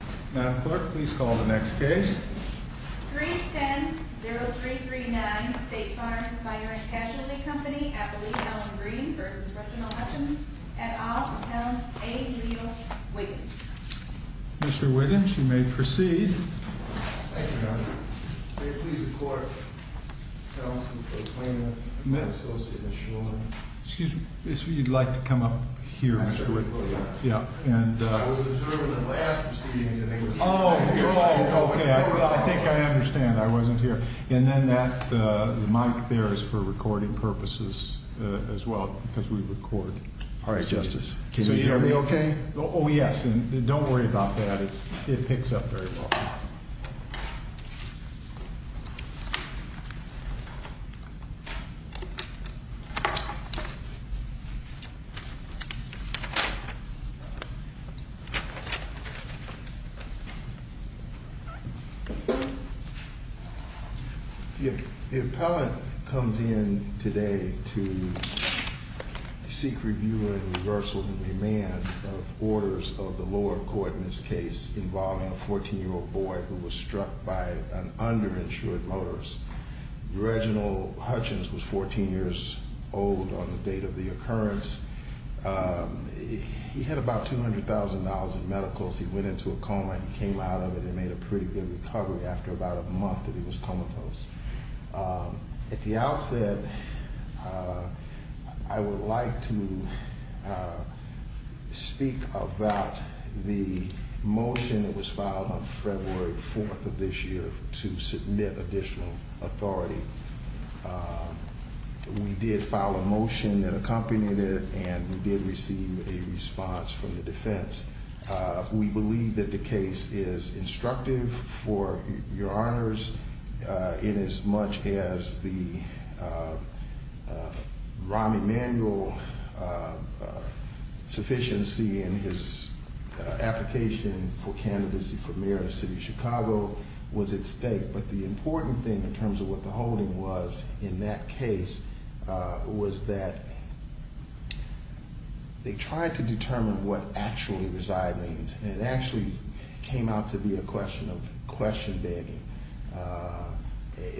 310-0339 State Farm Fire & Casualty Company, Appalachian-Allen Green, v. Reginald Hutchins, et al., Appellants A. and Leo Wiggins. Mr. Wiggins, you may proceed. Thank you, Madam. May it please the Court, Appellants, Mr. Klayman, Associate, Ms. Shulman. Excuse me, you'd like to come up here, Mr. Wiggins. I was observant of the last proceedings. Oh, okay. I think I understand. I wasn't here. And then the mic there is for recording purposes as well, because we record. All right, Justice. Can you hear me okay? Oh, yes. Don't worry about that. It picks up very well. The Appellant comes in today to seek review and reversal of the demand of orders of the lower court in this case involving a 14-year-old boy who was struck by an underinsured motorist. Reginald Hutchins was 14 years old on the date of the occurrence. He had about $200,000 in medicals. He went into a coma. He came out of it and made a pretty good recovery after about a month that he was comatose. At the outset, I would like to speak about the motion that was filed on February 4th of this year to submit additional authority. We did file a motion that accompanied it, and we did receive a response from the defense. We believe that the case is instructive for your honors in as much as the Rahm Emanuel sufficiency in his application for candidacy for mayor of the city of Chicago was at stake. But the important thing in terms of what the holding was in that case was that they tried to determine what actually reside means, and it actually came out to be a question of question begging.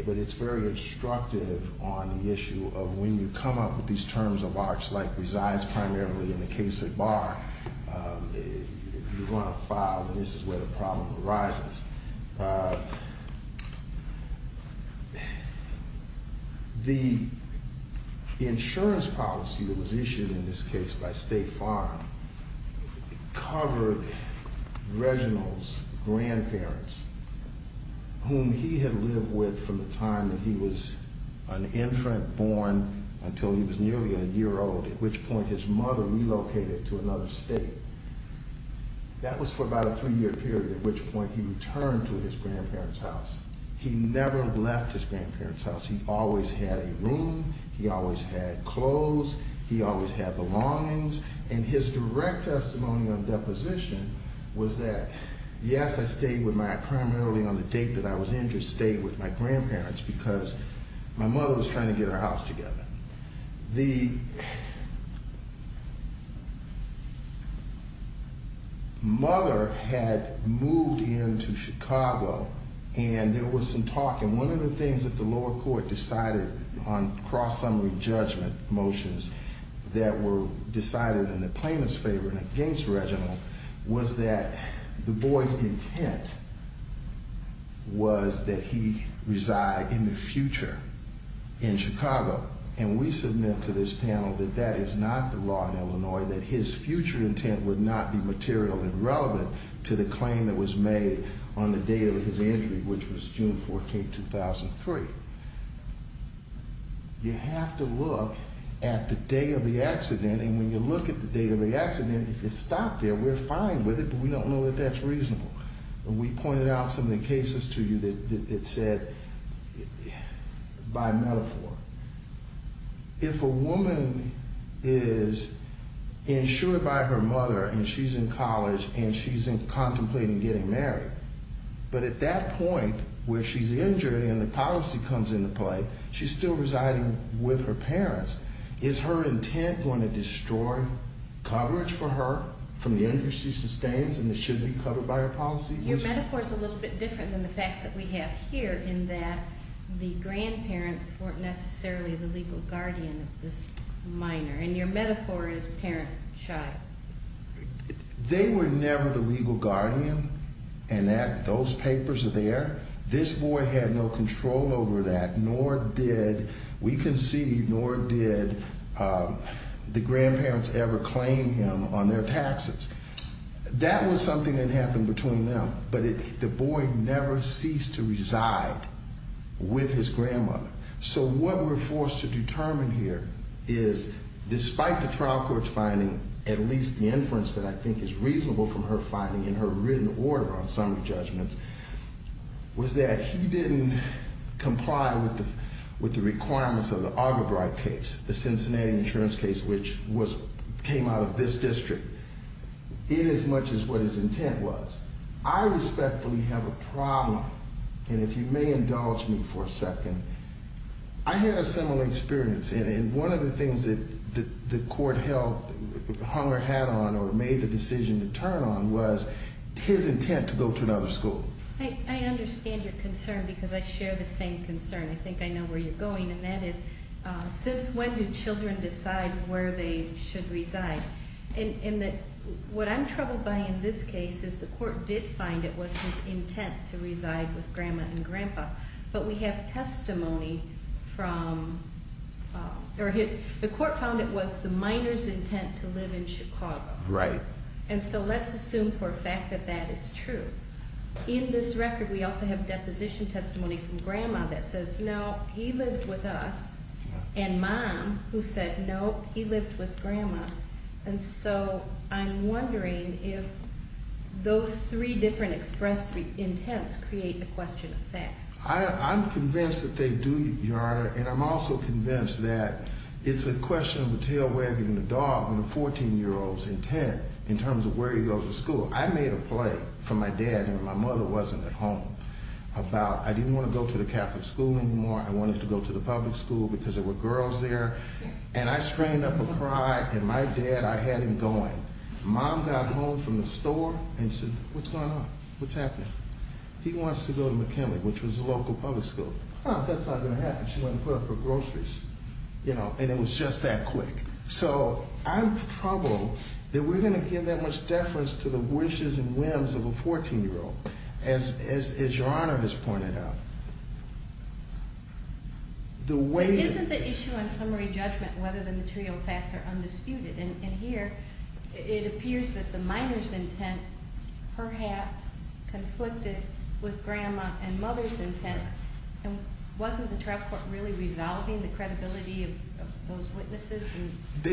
But it's very instructive on the issue of when you come up with these terms of arts like resides primarily in the case at bar. If you want to file, then this is where the problem arises. The insurance policy that was issued in this case by State Farm covered Reginald's grandparents, whom he had lived with from the time that he was an infant born until he was nearly a year old, at which point his mother relocated to another state. That was for about a three-year period, at which point he returned to his grandparents' house. He never left his grandparents' house. He always had a room. He always had clothes. He always had belongings. And his direct testimony on deposition was that, yes, I stayed with my, primarily on the date that I was injured, stayed with my grandparents because my mother was trying to get her house together. The mother had moved into Chicago, and there was some talk, and one of the things that the lower court decided on cross-summary judgment motions that were decided in the plaintiff's favor and against Reginald was that the boy's intent was that he reside in the future in Chicago. And we submit to this panel that that is not the law in Illinois, that his future intent would not be material and relevant to the claim that was made on the day of his injury, which was June 14, 2003. You have to look at the day of the accident, and when you look at the day of the accident, if it's stopped there, we're fine with it, but we don't know that that's reasonable. And we pointed out some of the cases to you that said, by metaphor, if a woman is insured by her mother and she's in college and she's contemplating getting married, but at that point where she's injured and the policy comes into play, she's still residing with her parents. Is her intent going to destroy coverage for her from the injuries she sustains and that should be covered by her policy? Your metaphor is a little bit different than the facts that we have here in that the grandparents weren't necessarily the legal guardian of this minor, and your metaphor is parent-child. They were never the legal guardian, and those papers are there. This boy had no control over that, nor did we concede, nor did the grandparents ever claim him on their taxes. That was something that happened between them, but the boy never ceased to reside with his grandmother. So what we're forced to determine here is, despite the trial court's finding, at least the inference that I think is reasonable from her finding in her written order on summary judgments, was that he didn't comply with the requirements of the Algebrai case, the Cincinnati insurance case, which came out of this district, inasmuch as what his intent was. I respectfully have a problem, and if you may indulge me for a second. I had a similar experience, and one of the things that the court hung her hat on or made the decision to turn on was his intent to go to another school. I understand your concern because I share the same concern. I think I know where you're going, and that is, since when do children decide where they should reside? What I'm troubled by in this case is the court did find it was his intent to reside with Grandma and Grandpa. But we have testimony from, or the court found it was the minor's intent to live in Chicago. Right. And so let's assume for a fact that that is true. In this record, we also have deposition testimony from Grandma that says, no, he lived with us. And Mom, who said, no, he lived with Grandma. And so I'm wondering if those three different expressed intents create a question of fact. I'm convinced that they do, Your Honor. And I'm also convinced that it's a question of a tail wagging the dog and a 14-year-old's intent in terms of where he goes to school. I made a play for my dad when my mother wasn't at home about I didn't want to go to the Catholic school anymore. I wanted to go to the public school because there were girls there. And I screamed up a cry, and my dad, I had him going. Mom got home from the store and said, what's going on? What's happening? He wants to go to McKinley, which was a local public school. Oh, that's not going to happen. She went and put up her groceries. And it was just that quick. So I'm troubled that we're going to give that much deference to the wishes and whims of a 14-year-old, as Your Honor has pointed out. Isn't the issue on summary judgment whether the material facts are undisputed? And here, it appears that the minor's intent perhaps conflicted with Grandma and Mother's intent. And wasn't the trial court really resolving the credibility of those witnesses?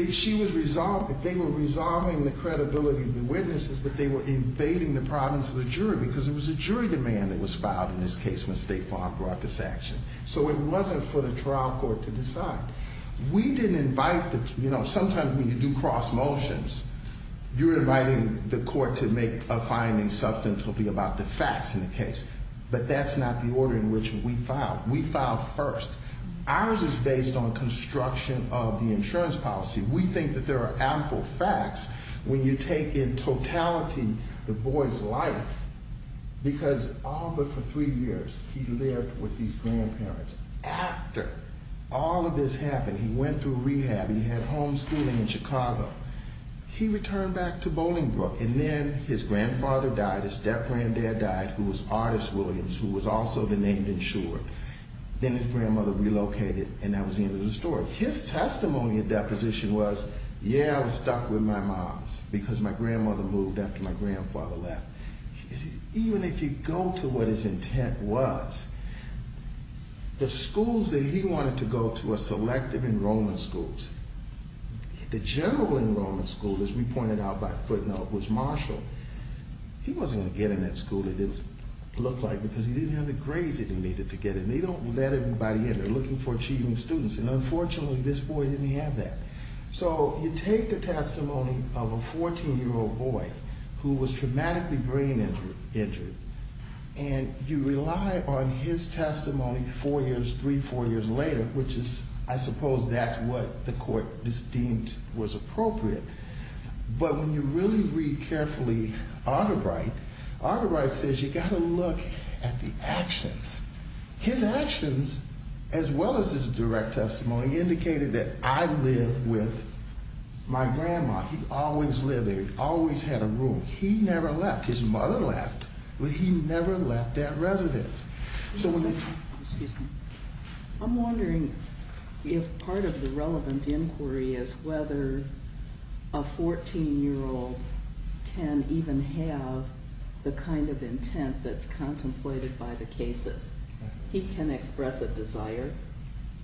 She was resolving. They were resolving the credibility of the witnesses, but they were invading the province of the jury because there was a jury demand that was filed in this case when State Farm brought this action. So it wasn't for the trial court to decide. We didn't invite the, you know, sometimes when you do cross motions, you're inviting the court to make a finding substantively about the facts in the case. But that's not the order in which we filed. We filed first. Ours is based on construction of the insurance policy. We think that there are ample facts when you take in totality the boy's life because all but for three years, he lived with these grandparents. After all of this happened, he went through rehab. He had homeschooling in Chicago. He returned back to Bolingbrook. And then his grandfather died, his step-granddad died, who was Artis Williams, who was also the name insured. Then his grandmother relocated, and that was the end of the story. His testimony at deposition was, yeah, I was stuck with my moms because my grandmother moved after my grandfather left. Even if you go to what his intent was, the schools that he wanted to go to were selective enrollment schools. The general enrollment school, as we pointed out by footnote, was Marshall. He wasn't going to get in that school. It didn't look like it because he didn't have the grades he needed to get in. They don't let everybody in. They're looking for achieving students, and unfortunately, this boy didn't have that. So you take the testimony of a 14-year-old boy who was traumatically brain injured, and you rely on his testimony four years, three, four years later, which is, I suppose, that's what the court deemed was appropriate. But when you really read carefully Artebrite, Artebrite says you got to look at the actions. His actions, as well as his direct testimony, indicated that I lived with my grandma. He always lived there. He always had a room. He never left. His mother left, but he never left that residence. I'm wondering if part of the relevant inquiry is whether a 14-year-old can even have the kind of intent that's contemplated by the cases. He can express a desire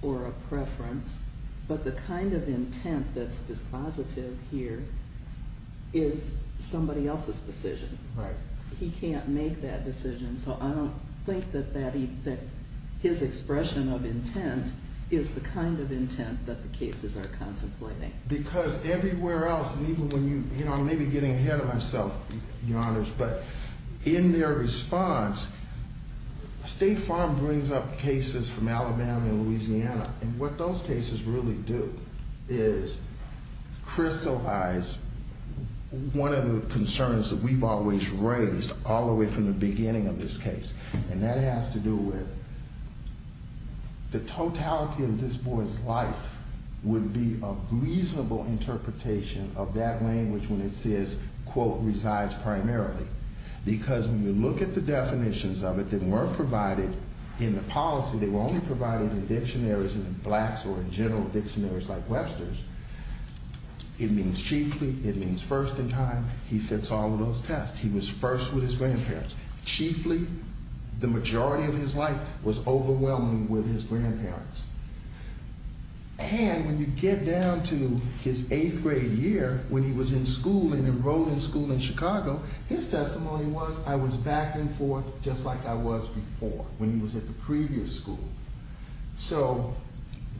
or a preference, but the kind of intent that's dispositive here is somebody else's decision. He can't make that decision, so I don't think that his expression of intent is the kind of intent that the cases are contemplating. Because everywhere else, and even when you, you know, I may be getting ahead of myself, Your Honors, but in their response, State Farm brings up cases from Alabama and Louisiana, and what those cases really do is crystallize one of the concerns that we've always raised all the way from the beginning of this case, and that has to do with the totality of this boy's life would be a reasonable interpretation of that language when it says, quote, resides primarily. Because when you look at the definitions of it that weren't provided in the policy, they were only provided in dictionaries in blacks or in general dictionaries like Webster's, it means chiefly, it means first in time, he fits all of those tests. He was first with his grandparents. Chiefly, the majority of his life was overwhelming with his grandparents. And when you get down to his eighth grade year, when he was in school and enrolled in school in Chicago, his testimony was, I was back and forth just like I was before when he was at the previous school. So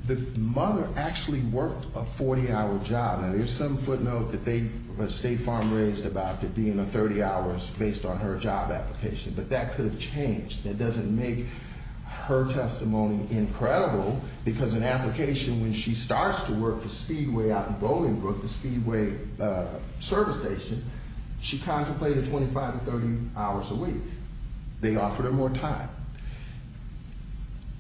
the mother actually worked a 40-hour job. Now, there's some footnote that State Farm raised about it being a 30 hours based on her job application, but that could have changed. That doesn't make her testimony incredible because an application when she starts to work for Speedway out in Bolingbrook, the Speedway service station, she contemplated 25 to 30 hours a week. They offered her more time.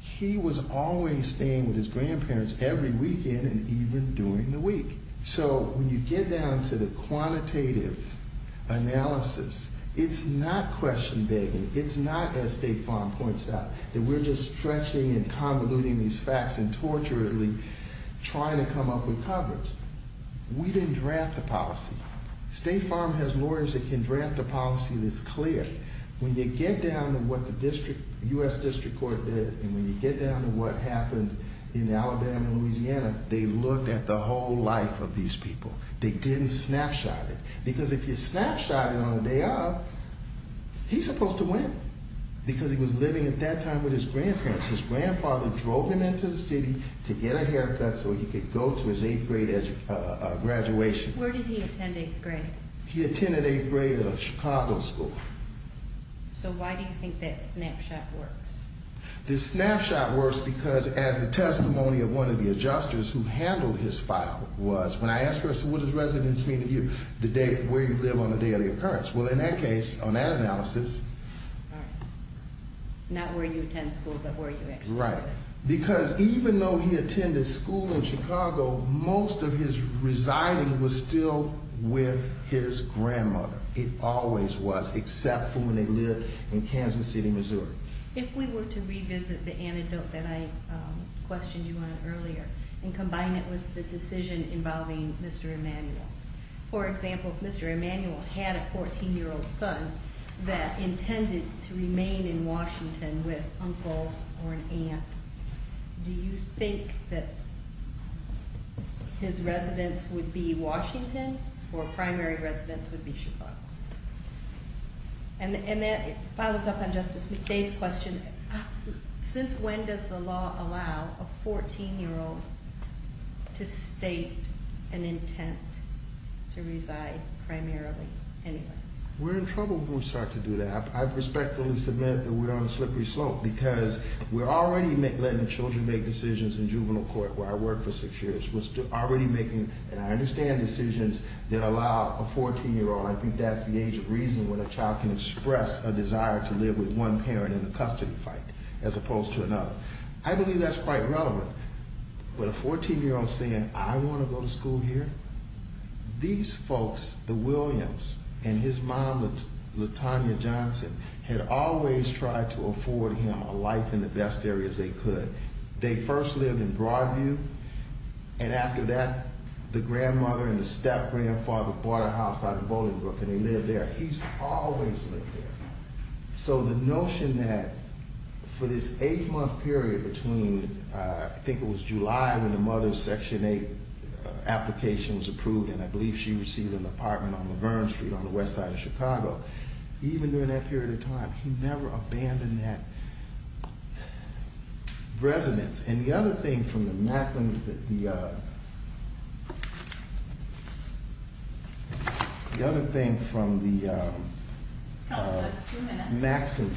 He was always staying with his grandparents every weekend and even during the week. So when you get down to the quantitative analysis, it's not question begging. It's not, as State Farm points out, that we're just stretching and convoluting these facts and torturately trying to come up with coverage. We didn't draft the policy. State Farm has lawyers that can draft a policy that's clear. When you get down to what the U.S. District Court did and when you get down to what happened in Alabama and Louisiana, they looked at the whole life of these people. They didn't snapshot it because if you snapshot it on the day of, he's supposed to win because he was living at that time with his grandparents. His grandfather drove him into the city to get a haircut so he could go to his eighth grade graduation. Where did he attend eighth grade? He attended eighth grade at a Chicago school. So why do you think that snapshot works? The snapshot works because as the testimony of one of the adjusters who handled his file was, when I asked her, so what does residence mean to you? The date, where you live on a daily occurrence. Well, in that case, on that analysis. All right. Not where you attend school, but where you actually live. Right. Because even though he attended school in Chicago, most of his residing was still with his grandmother. It always was, except for when they lived in Kansas City, Missouri. If we were to revisit the antidote that I questioned you on earlier and combine it with the decision involving Mr. Emanuel, for example, if Mr. Emanuel had a 14-year-old son that intended to remain in Washington with uncle or an aunt, do you think that his residence would be Washington or primary residence would be Chicago? And that follows up on Justice McDay's question. Since when does the law allow a 14-year-old to state an intent to reside primarily anywhere? We're in trouble when we start to do that. I respectfully submit that we're on a slippery slope because we're already letting children make decisions in juvenile court, where I worked for six years. We're already making, and I understand, decisions that allow a 14-year-old. I think that's the age of reasoning when a child can express a desire to live with one parent in the custody fight as opposed to another. I believe that's quite relevant. With a 14-year-old saying, I want to go to school here, these folks, the Williams and his mom, Latonya Johnson, had always tried to afford him a life in the best areas they could. They first lived in Broadview, and after that, the grandmother and the step-grandfather bought a house out in Bolingbrook, and they lived there. He's always lived there. So the notion that for this eight-month period between, I think it was July when the mother's Section 8 application was approved, and I believe she received an apartment on Laverne Street on the west side of Chicago, even during that period of time, he never abandoned that residence. And the other thing from the Macklin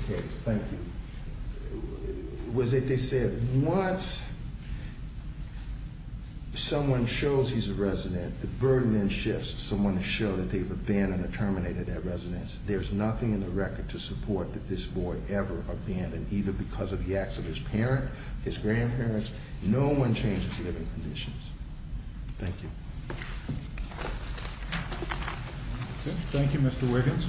case, thank you, was that they said once someone shows he's a resident, the burden then shifts to someone to show that they've abandoned or terminated that residence. There's nothing in the record to support that this boy ever abandoned, either because of the acts of his parents, his grandparents. No one changes living conditions. Thank you. Thank you, Mr. Wiggins.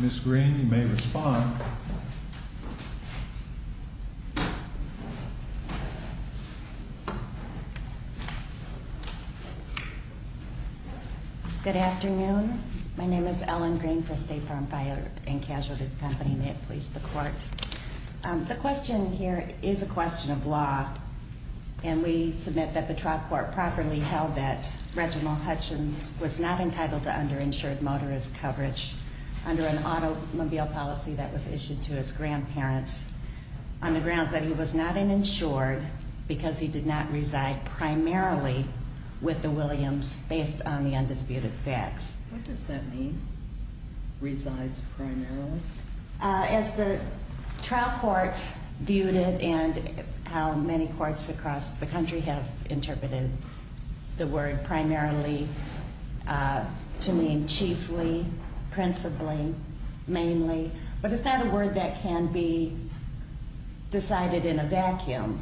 Ms. Green, you may respond. Good afternoon. My name is Ellen Green for State Farm Fire and Casualty Company. May it please the Court. The question here is a question of law, and we submit that the trial court properly held that Reginald Hutchins was not entitled to underinsured motorist coverage under an automobile policy that was issued to his grandparents on the grounds that he was not an insured because he did not reside primarily with the Williams based on the undisputed facts. What does that mean, resides primarily? As the trial court viewed it and how many courts across the country have interpreted the word primarily to mean chiefly, principally, mainly, but it's not a word that can be decided in a vacuum,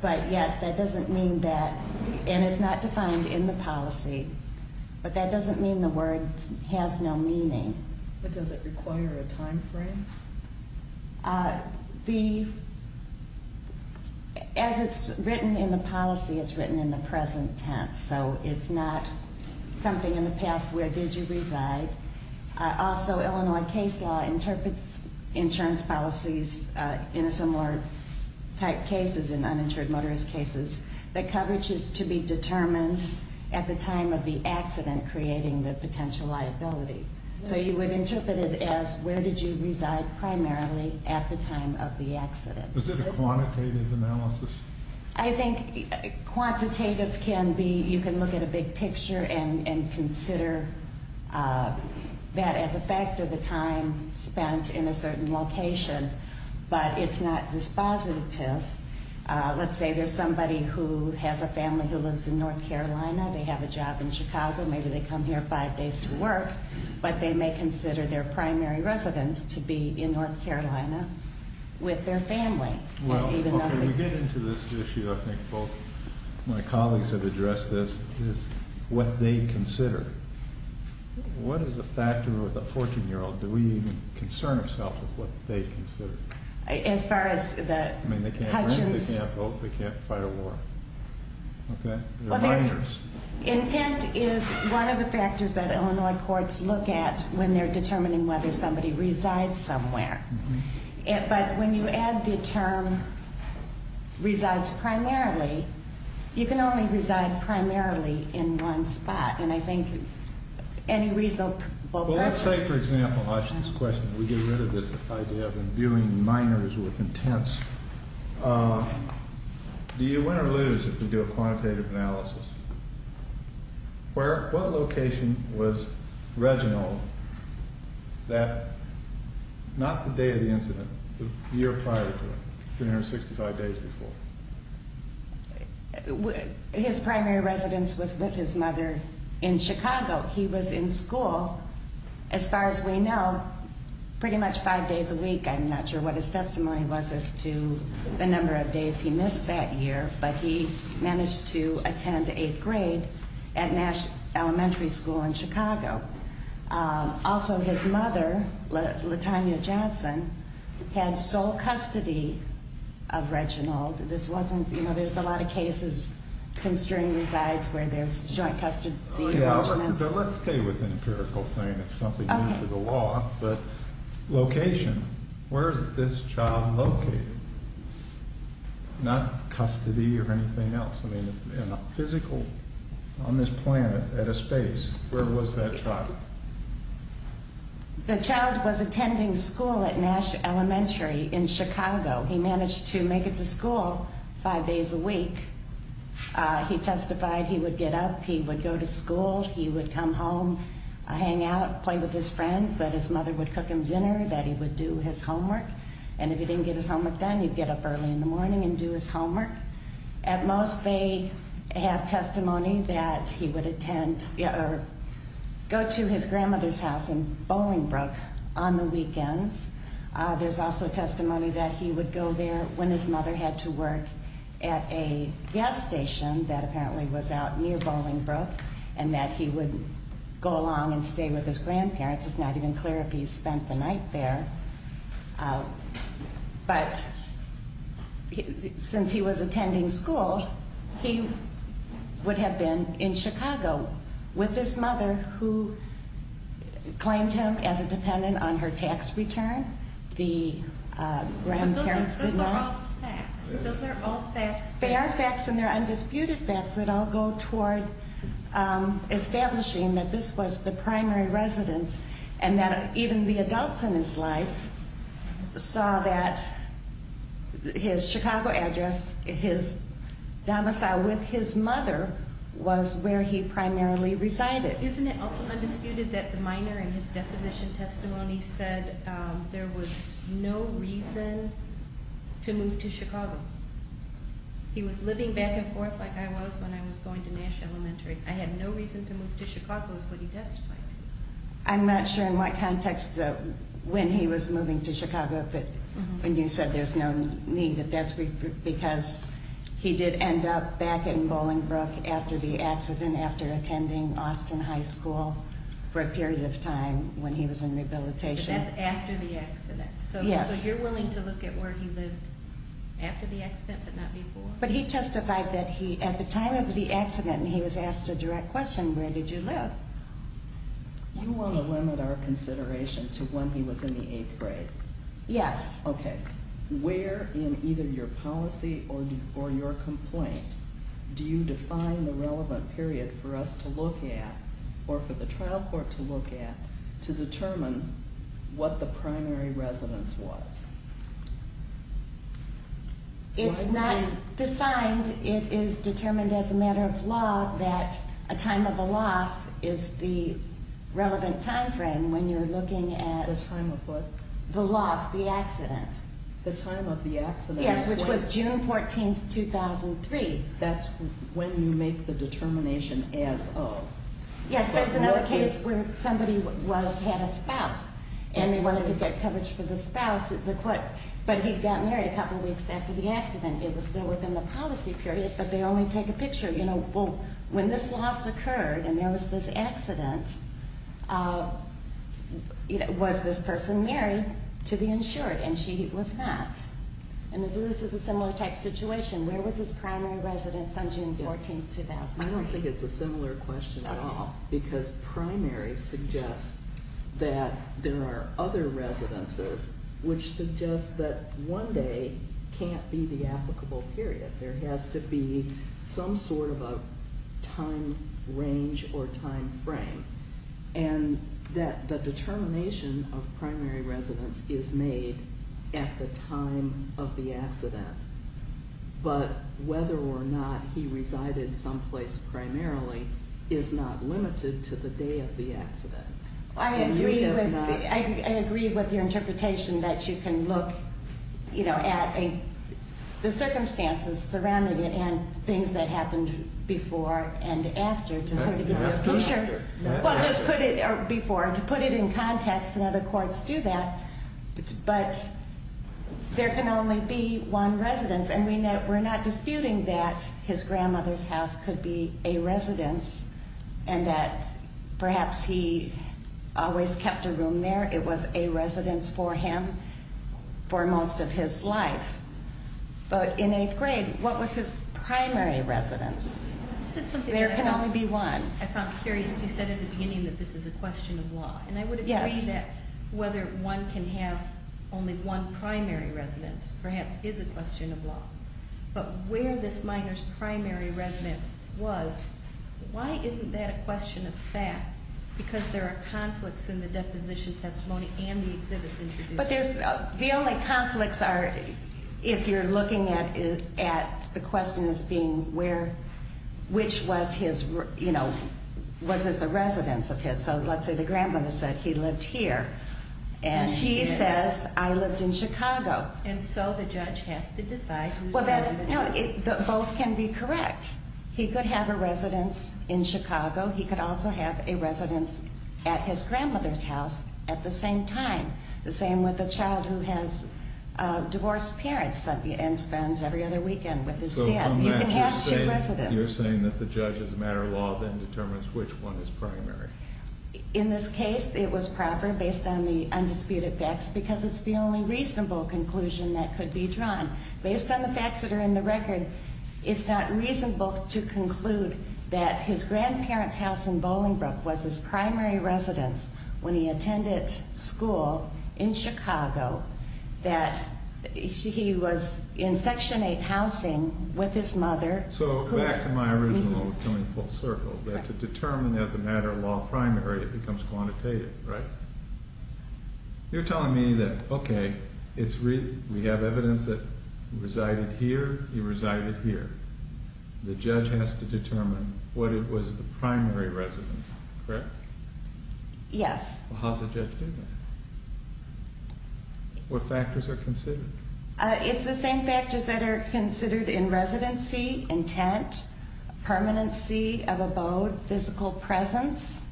but yet that doesn't mean that, and it's not defined in the policy, but that doesn't mean the word has no meaning. But does it require a timeframe? As it's written in the policy, it's written in the present tense, so it's not something in the past, where did you reside? Also, Illinois case law interprets insurance policies in a similar type cases, in uninsured motorist cases, the coverage is to be determined at the time of the accident creating the potential liability. So you would interpret it as where did you reside primarily at the time of the accident. Is it a quantitative analysis? I think quantitative can be, you can look at a big picture and consider that as a factor of the time spent in a certain location, but it's not dispositive. Let's say there's somebody who has a family who lives in North Carolina, they have a job in Chicago, maybe they come here five days to work, but they may consider their primary residence to be in North Carolina with their family. Well, before we get into this issue, I think both my colleagues have addressed this, is what they consider. What is a factor with a 14-year-old? Do we even concern ourselves with what they consider? As far as the Hutchins. They can't rent, they can't vote, they can't fight a war. Intent is one of the factors that Illinois courts look at when they're determining whether somebody resides somewhere. But when you add the term resides primarily, you can only reside primarily in one spot. And I think any reasonable person. Let's say, for example, we get rid of this idea of imbuing minors with intents. Do you win or lose if we do a quantitative analysis? What location was Reginald, not the day of the incident, the year prior to it, 365 days before? His primary residence was with his mother in Chicago. He was in school, as far as we know, pretty much five days a week. I'm not sure what his testimony was as to the number of days he missed that year, but he managed to attend eighth grade at Nash Elementary School in Chicago. Also, his mother, Latonya Johnson, had sole custody of Reginald. There's a lot of cases, constrained resides where there's joint custody arrangements. Let's stay with the empirical thing. It's something new to the law, but location. Where is this child located? Not custody or anything else. Physical, on this planet, at a space. Where was that child? The child was attending school at Nash Elementary in Chicago. He managed to make it to school five days a week. He testified he would get up, he would go to school, he would come home, hang out, play with his friends, that his mother would cook him dinner, that he would do his homework. And if he didn't get his homework done, he'd get up early in the morning and do his homework. At most, they have testimony that he would go to his grandmother's house in Bolingbrook on the weekends. There's also testimony that he would go there when his mother had to work at a gas station that apparently was out near Bolingbrook, and that he would go along and stay with his grandparents. It's not even clear if he spent the night there. But since he was attending school, he would have been in Chicago with his mother, who claimed him as a dependent on her tax return. But those are all facts. Those are all facts. They are facts, and they're undisputed facts that all go toward establishing that this was the primary residence and that even the adults in his life saw that his Chicago address, his domicile with his mother, was where he primarily resided. Isn't it also undisputed that the minor in his deposition testimony said there was no reason to move to Chicago? He was living back and forth like I was when I was going to Nash Elementary. I had no reason to move to Chicago is what he testified to. I'm not sure in what context when he was moving to Chicago when you said there's no need, but that's because he did end up back in Bolingbrook after the accident, after attending Austin High School for a period of time when he was in rehabilitation. But that's after the accident. Yes. So you're willing to look at where he lived after the accident but not before? No, but he testified that at the time of the accident he was asked a direct question, where did you live? You want to limit our consideration to when he was in the eighth grade? Yes. Okay. Where in either your policy or your complaint do you define the relevant period for us to look at or for the trial court to look at to determine what the primary residence was? It's not defined. It is determined as a matter of law that a time of the loss is the relevant time frame when you're looking at- The time of what? The loss, the accident. The time of the accident. Yes, which was June 14, 2003. That's when you make the determination as of. Yes, there's another case where somebody had a spouse and they wanted to get coverage for the spouse. But he got married a couple weeks after the accident. It was still within the policy period, but they only take a picture. You know, when this loss occurred and there was this accident, was this person married to the insured? And she was not. And this is a similar type situation. Where was his primary residence on June 14, 2003? I don't think it's a similar question at all because primary suggests that there are other residences which suggest that one day can't be the applicable period. There has to be some sort of a time range or time frame. And that the determination of primary residence is made at the time of the accident. But whether or not he resided someplace primarily is not limited to the day of the accident. I agree with your interpretation that you can look, you know, at the circumstances surrounding it and things that happened before and after to sort of get a picture. Well, just put it before, to put it in context, and other courts do that. But there can only be one residence. And we're not disputing that his grandmother's house could be a residence and that perhaps he always kept a room there. It was a residence for him for most of his life. But in eighth grade, what was his primary residence? There can only be one. I found it curious. You said at the beginning that this is a question of law. And I would agree that whether one can have only one primary residence perhaps is a question of law. But where this minor's primary residence was, why isn't that a question of fact? Because there are conflicts in the deposition testimony and the exhibits introduced. But the only conflicts are if you're looking at the questions being where, which was his, you know, was this a residence of his? So let's say the grandmother said he lived here. And he says I lived in Chicago. And so the judge has to decide whose residence it is. Both can be correct. He could have a residence in Chicago. He could also have a residence at his grandmother's house at the same time, the same with a child who has divorced parents and spends every other weekend with his stepdad. You can have two residences. You're saying that the judge as a matter of law then determines which one is primary. In this case, it was proper based on the undisputed facts because it's the only reasonable conclusion that could be drawn. Based on the facts that are in the record, it's not reasonable to conclude that his grandparents' house in Bolingbrook was his primary residence when he attended school in Chicago, that he was in Section 8 housing with his mother. So back to my original coming full circle, that to determine as a matter of law primary, it becomes quantitative, right? You're telling me that, okay, we have evidence that he resided here, he resided here. The judge has to determine what it was the primary residence, correct? Yes. How does the judge do that? What factors are considered? It's the same factors that are considered in residency, intent, permanency of abode, physical presence,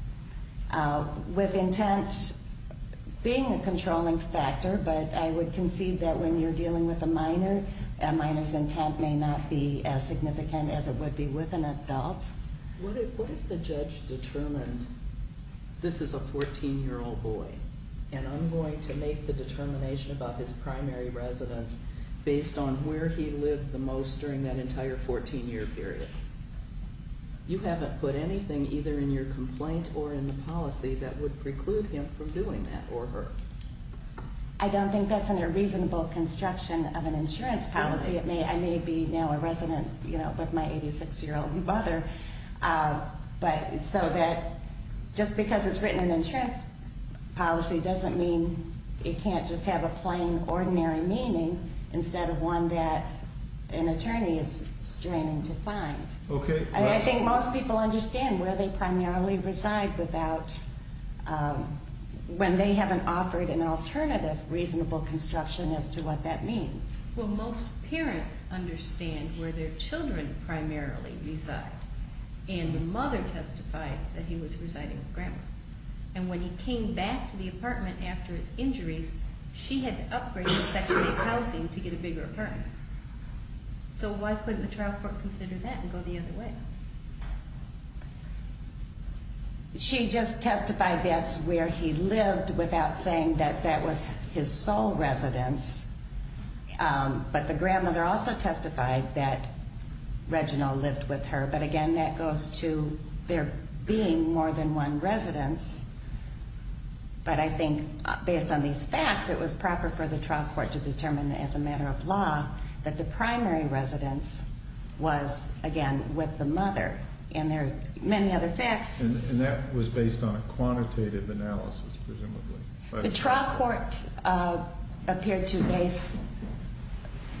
with intent being a controlling factor, but I would concede that when you're dealing with a minor, a minor's intent may not be as significant as it would be with an adult. What if the judge determined this is a 14-year-old boy, and I'm going to make the determination about his primary residence based on where he lived the most during that entire 14-year period? You haven't put anything either in your complaint or in the policy that would preclude him from doing that or her. I don't think that's under reasonable construction of an insurance policy. I may be now a resident with my 86-year-old mother, but so that just because it's written in an insurance policy doesn't mean it can't just have a plain, ordinary meaning instead of one that an attorney is straining to find. I think most people understand where they primarily reside without, when they haven't offered an alternative reasonable construction as to what that means. Well, most parents understand where their children primarily reside, and the mother testified that he was residing with Grandma. And when he came back to the apartment after his injuries, she had to upgrade the section of housing to get a bigger apartment. So why couldn't the child court consider that and go the other way? She just testified that's where he lived without saying that that was his sole residence. But the grandmother also testified that Reginald lived with her. But again, that goes to there being more than one residence. But I think based on these facts, it was proper for the trial court to determine as a matter of law that the primary residence was, again, with the mother. And there are many other facts. And that was based on a quantitative analysis, presumably. The trial court appeared to base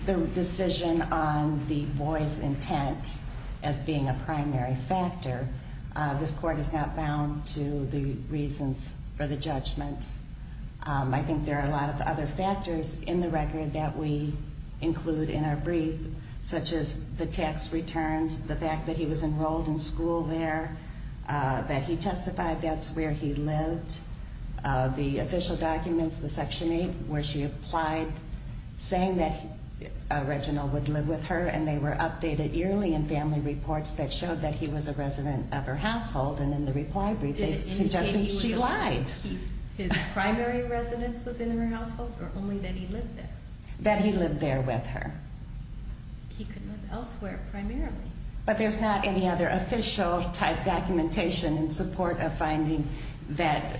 the decision on the boy's intent as being a primary factor. This court is not bound to the reasons for the judgment. I think there are a lot of other factors in the record that we include in our brief, such as the tax returns, the fact that he was enrolled in school there, that he testified that's where he lived, the official documents, the Section 8, where she applied saying that Reginald would live with her, and they were updated yearly in family reports that showed that he was a resident of her household. And in the reply brief, they suggested she lied. His primary residence was in her household or only that he lived there? That he lived there with her. He could live elsewhere primarily. But there's not any other official type documentation in support of finding that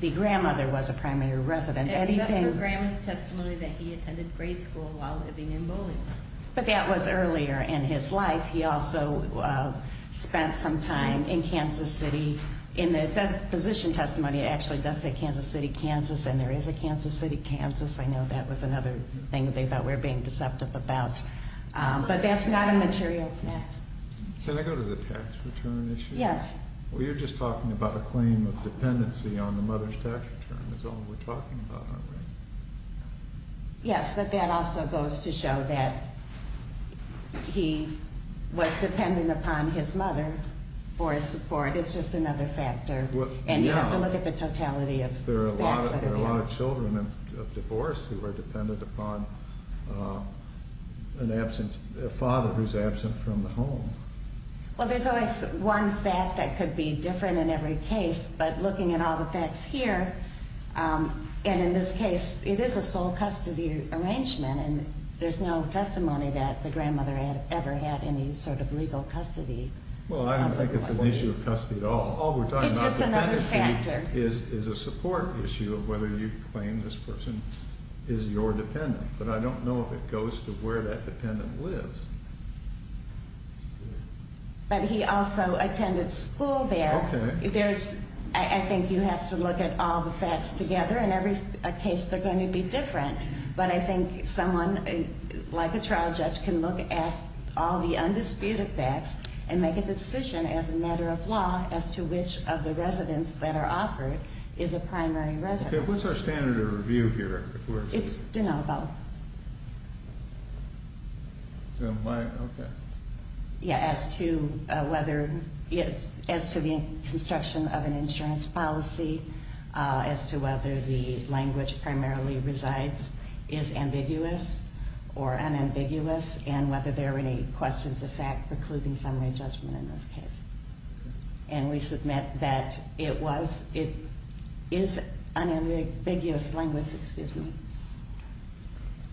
the grandmother was a primary resident. Except for grandma's testimony that he attended grade school while living in Bowling. But that was earlier in his life. He also spent some time in Kansas City. In the position testimony, it actually does say Kansas City, Kansas, and there is a Kansas City, Kansas. I know that was another thing they thought we were being deceptive about. But that's not a material fact. Can I go to the tax return issue? Yes. Well, you're just talking about a claim of dependency on the mother's tax return. That's all we're talking about, aren't we? Yes, but that also goes to show that he was dependent upon his mother for his support. It's just another factor. And you have to look at the totality of that. There are a lot of children of divorce who are dependent upon a father who's absent from the home. Well, there's always one fact that could be different in every case. But looking at all the facts here, and in this case, it is a sole custody arrangement. And there's no testimony that the grandmother ever had any sort of legal custody. Well, I don't think it's an issue of custody at all. It's just another factor. All we're talking about with dependency is a support issue of whether you claim this person is your dependent. But I don't know if it goes to where that dependent lives. But he also attended school there. Okay. I think you have to look at all the facts together. In every case, they're going to be different. But I think someone, like a trial judge, can look at all the undisputed facts and make a decision as a matter of law as to which of the residents that are offered is a primary residence. Okay. What's our standard of review here? It's de novo. Okay. Yeah, as to whether, as to the construction of an insurance policy, as to whether the language primarily resides is ambiguous or unambiguous, and whether there are any questions of fact precluding summary judgment in this case. And we submit that it was, it is unambiguous language, excuse me,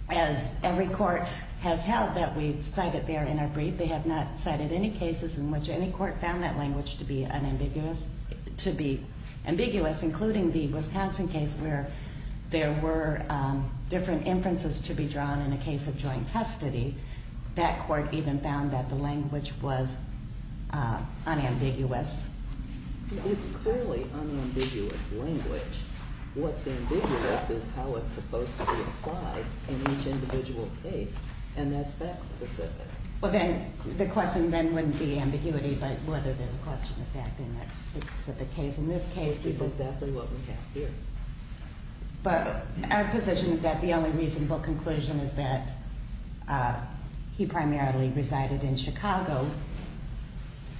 as every court has held that we've cited there in our brief. They have not cited any cases in which any court found that language to be unambiguous, to be ambiguous, including the Wisconsin case where there were different inferences to be drawn in a case of joint custody. That court even found that the language was unambiguous. It's clearly unambiguous language. What's ambiguous is how it's supposed to be applied in each individual case, and that's fact-specific. Well, then, the question then wouldn't be ambiguity, but whether there's a question of fact in that specific case. In this case, we've got exactly what we have here. But our position is that the only reasonable conclusion is that he primarily resided in Chicago,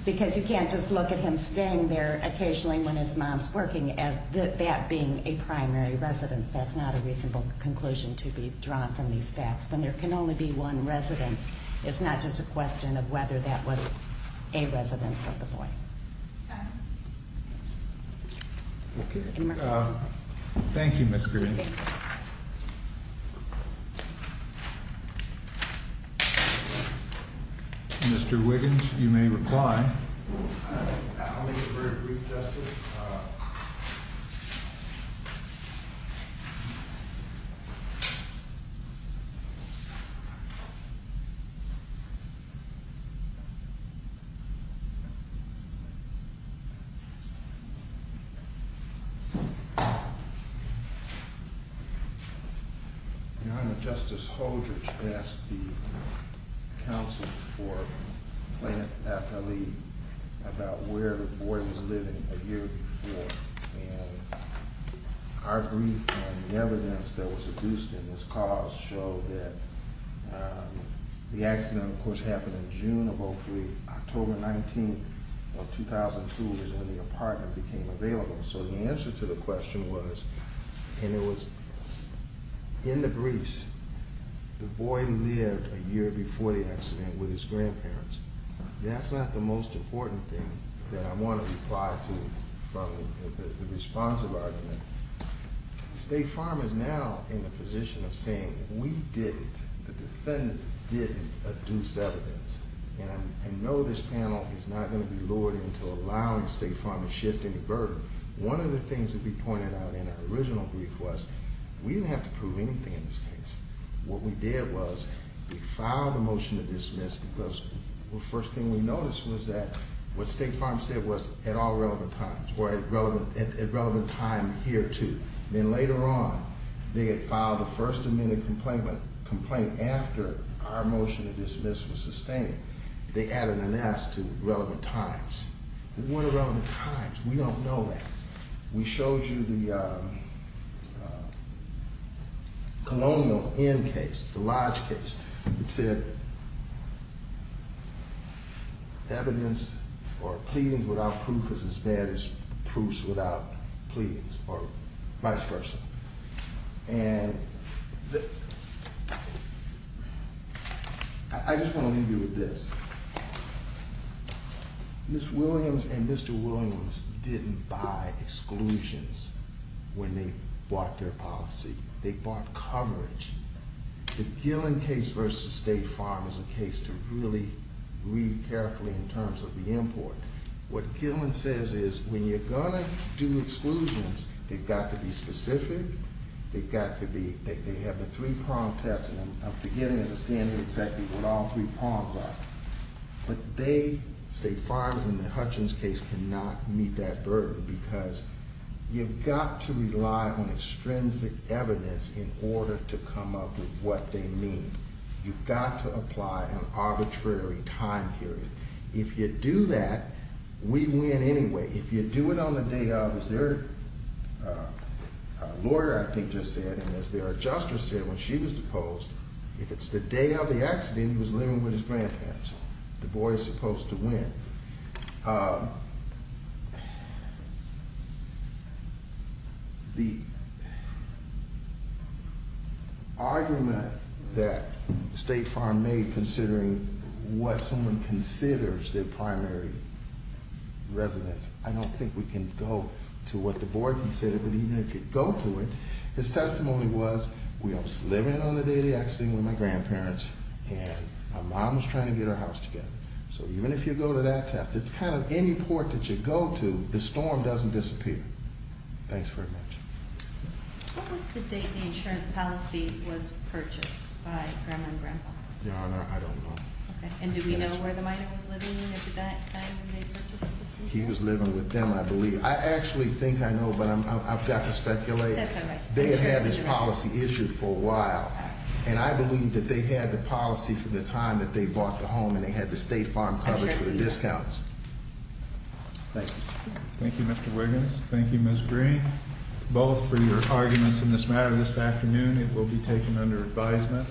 because you can't just look at him staying there occasionally when his mom's working as that being a primary residence. That's not a reasonable conclusion to be drawn from these facts. When there can only be one residence, it's not just a question of whether that was a residence of the boy. Any more questions? Thank you, Ms. Green. Thank you. Mr. Wiggins, you may reply. I'll make it very brief, Justice. Your Honor, Justice Holdridge asked the counsel for Planned Parenthood about where the boy was living a year before. And our brief and the evidence that was produced in this cause show that the accident, of course, happened in June of 2003. October 19th of 2002 is when the apartment became available. So the answer to the question was, and it was in the briefs, the boy lived a year before the accident with his grandparents. That's not the most important thing that I want to reply to from the responsive argument. The State Farm is now in the position of saying we didn't, the defendants didn't, adduce evidence. And I know this panel is not going to be lured into allowing State Farm to shift any burden. One of the things that we pointed out in our original brief was we didn't have to prove anything in this case. What we did was we filed a motion to dismiss because the first thing we noticed was that what State Farm said was at all relevant times, or at relevant time here too. Then later on, they had filed a first amendment complaint after our motion to dismiss was sustained. They added an S to relevant times. What are relevant times? We don't know that. We showed you the Colonial Inn case, the Lodge case. It said evidence or pleadings without proof is as bad as proofs without pleadings, or vice versa. I just want to leave you with this. Ms. Williams and Mr. Williams didn't buy exclusions when they bought their policy. They bought coverage. The Gillen case versus State Farm is a case to really read carefully in terms of the import. What Gillen says is when you're going to do exclusions, they've got to be specific. They've got to be, they have a three-prong test. I'm forgetting as a standing executive what all three prongs are. But they, State Farm in the Hutchins case, cannot meet that burden because you've got to rely on extrinsic evidence in order to come up with what they mean. You've got to apply an arbitrary time period. If you do that, we win anyway. If you do it on the day of, as their lawyer, I think, just said, and as their adjuster said when she was deposed, if it's the day of the accident, he was living with his grandparents. The boy is supposed to win. The argument that State Farm made considering what someone considers their primary residence, I don't think we can go to what the boy considered. But even if you go to it, his testimony was, we was living on the day of the accident with my grandparents. And my mom was trying to get our house together. So even if you go to that test, it's kind of any port that you go to, the storm doesn't disappear. Thanks very much. What was the date the insurance policy was purchased by Grandma and Grandpa? Your Honor, I don't know. And do we know where the minor was living at the time when they purchased the system? He was living with them, I believe. I actually think I know, but I've got to speculate. That's all right. They had had this policy issued for a while. And I believe that they had the policy from the time that they bought the home and they had the State Farm coverage for the discounts. Thank you. Thank you, Mr. Wiggins. Thank you, Ms. Green. Both for your arguments in this matter this afternoon, it will be taken under advisement.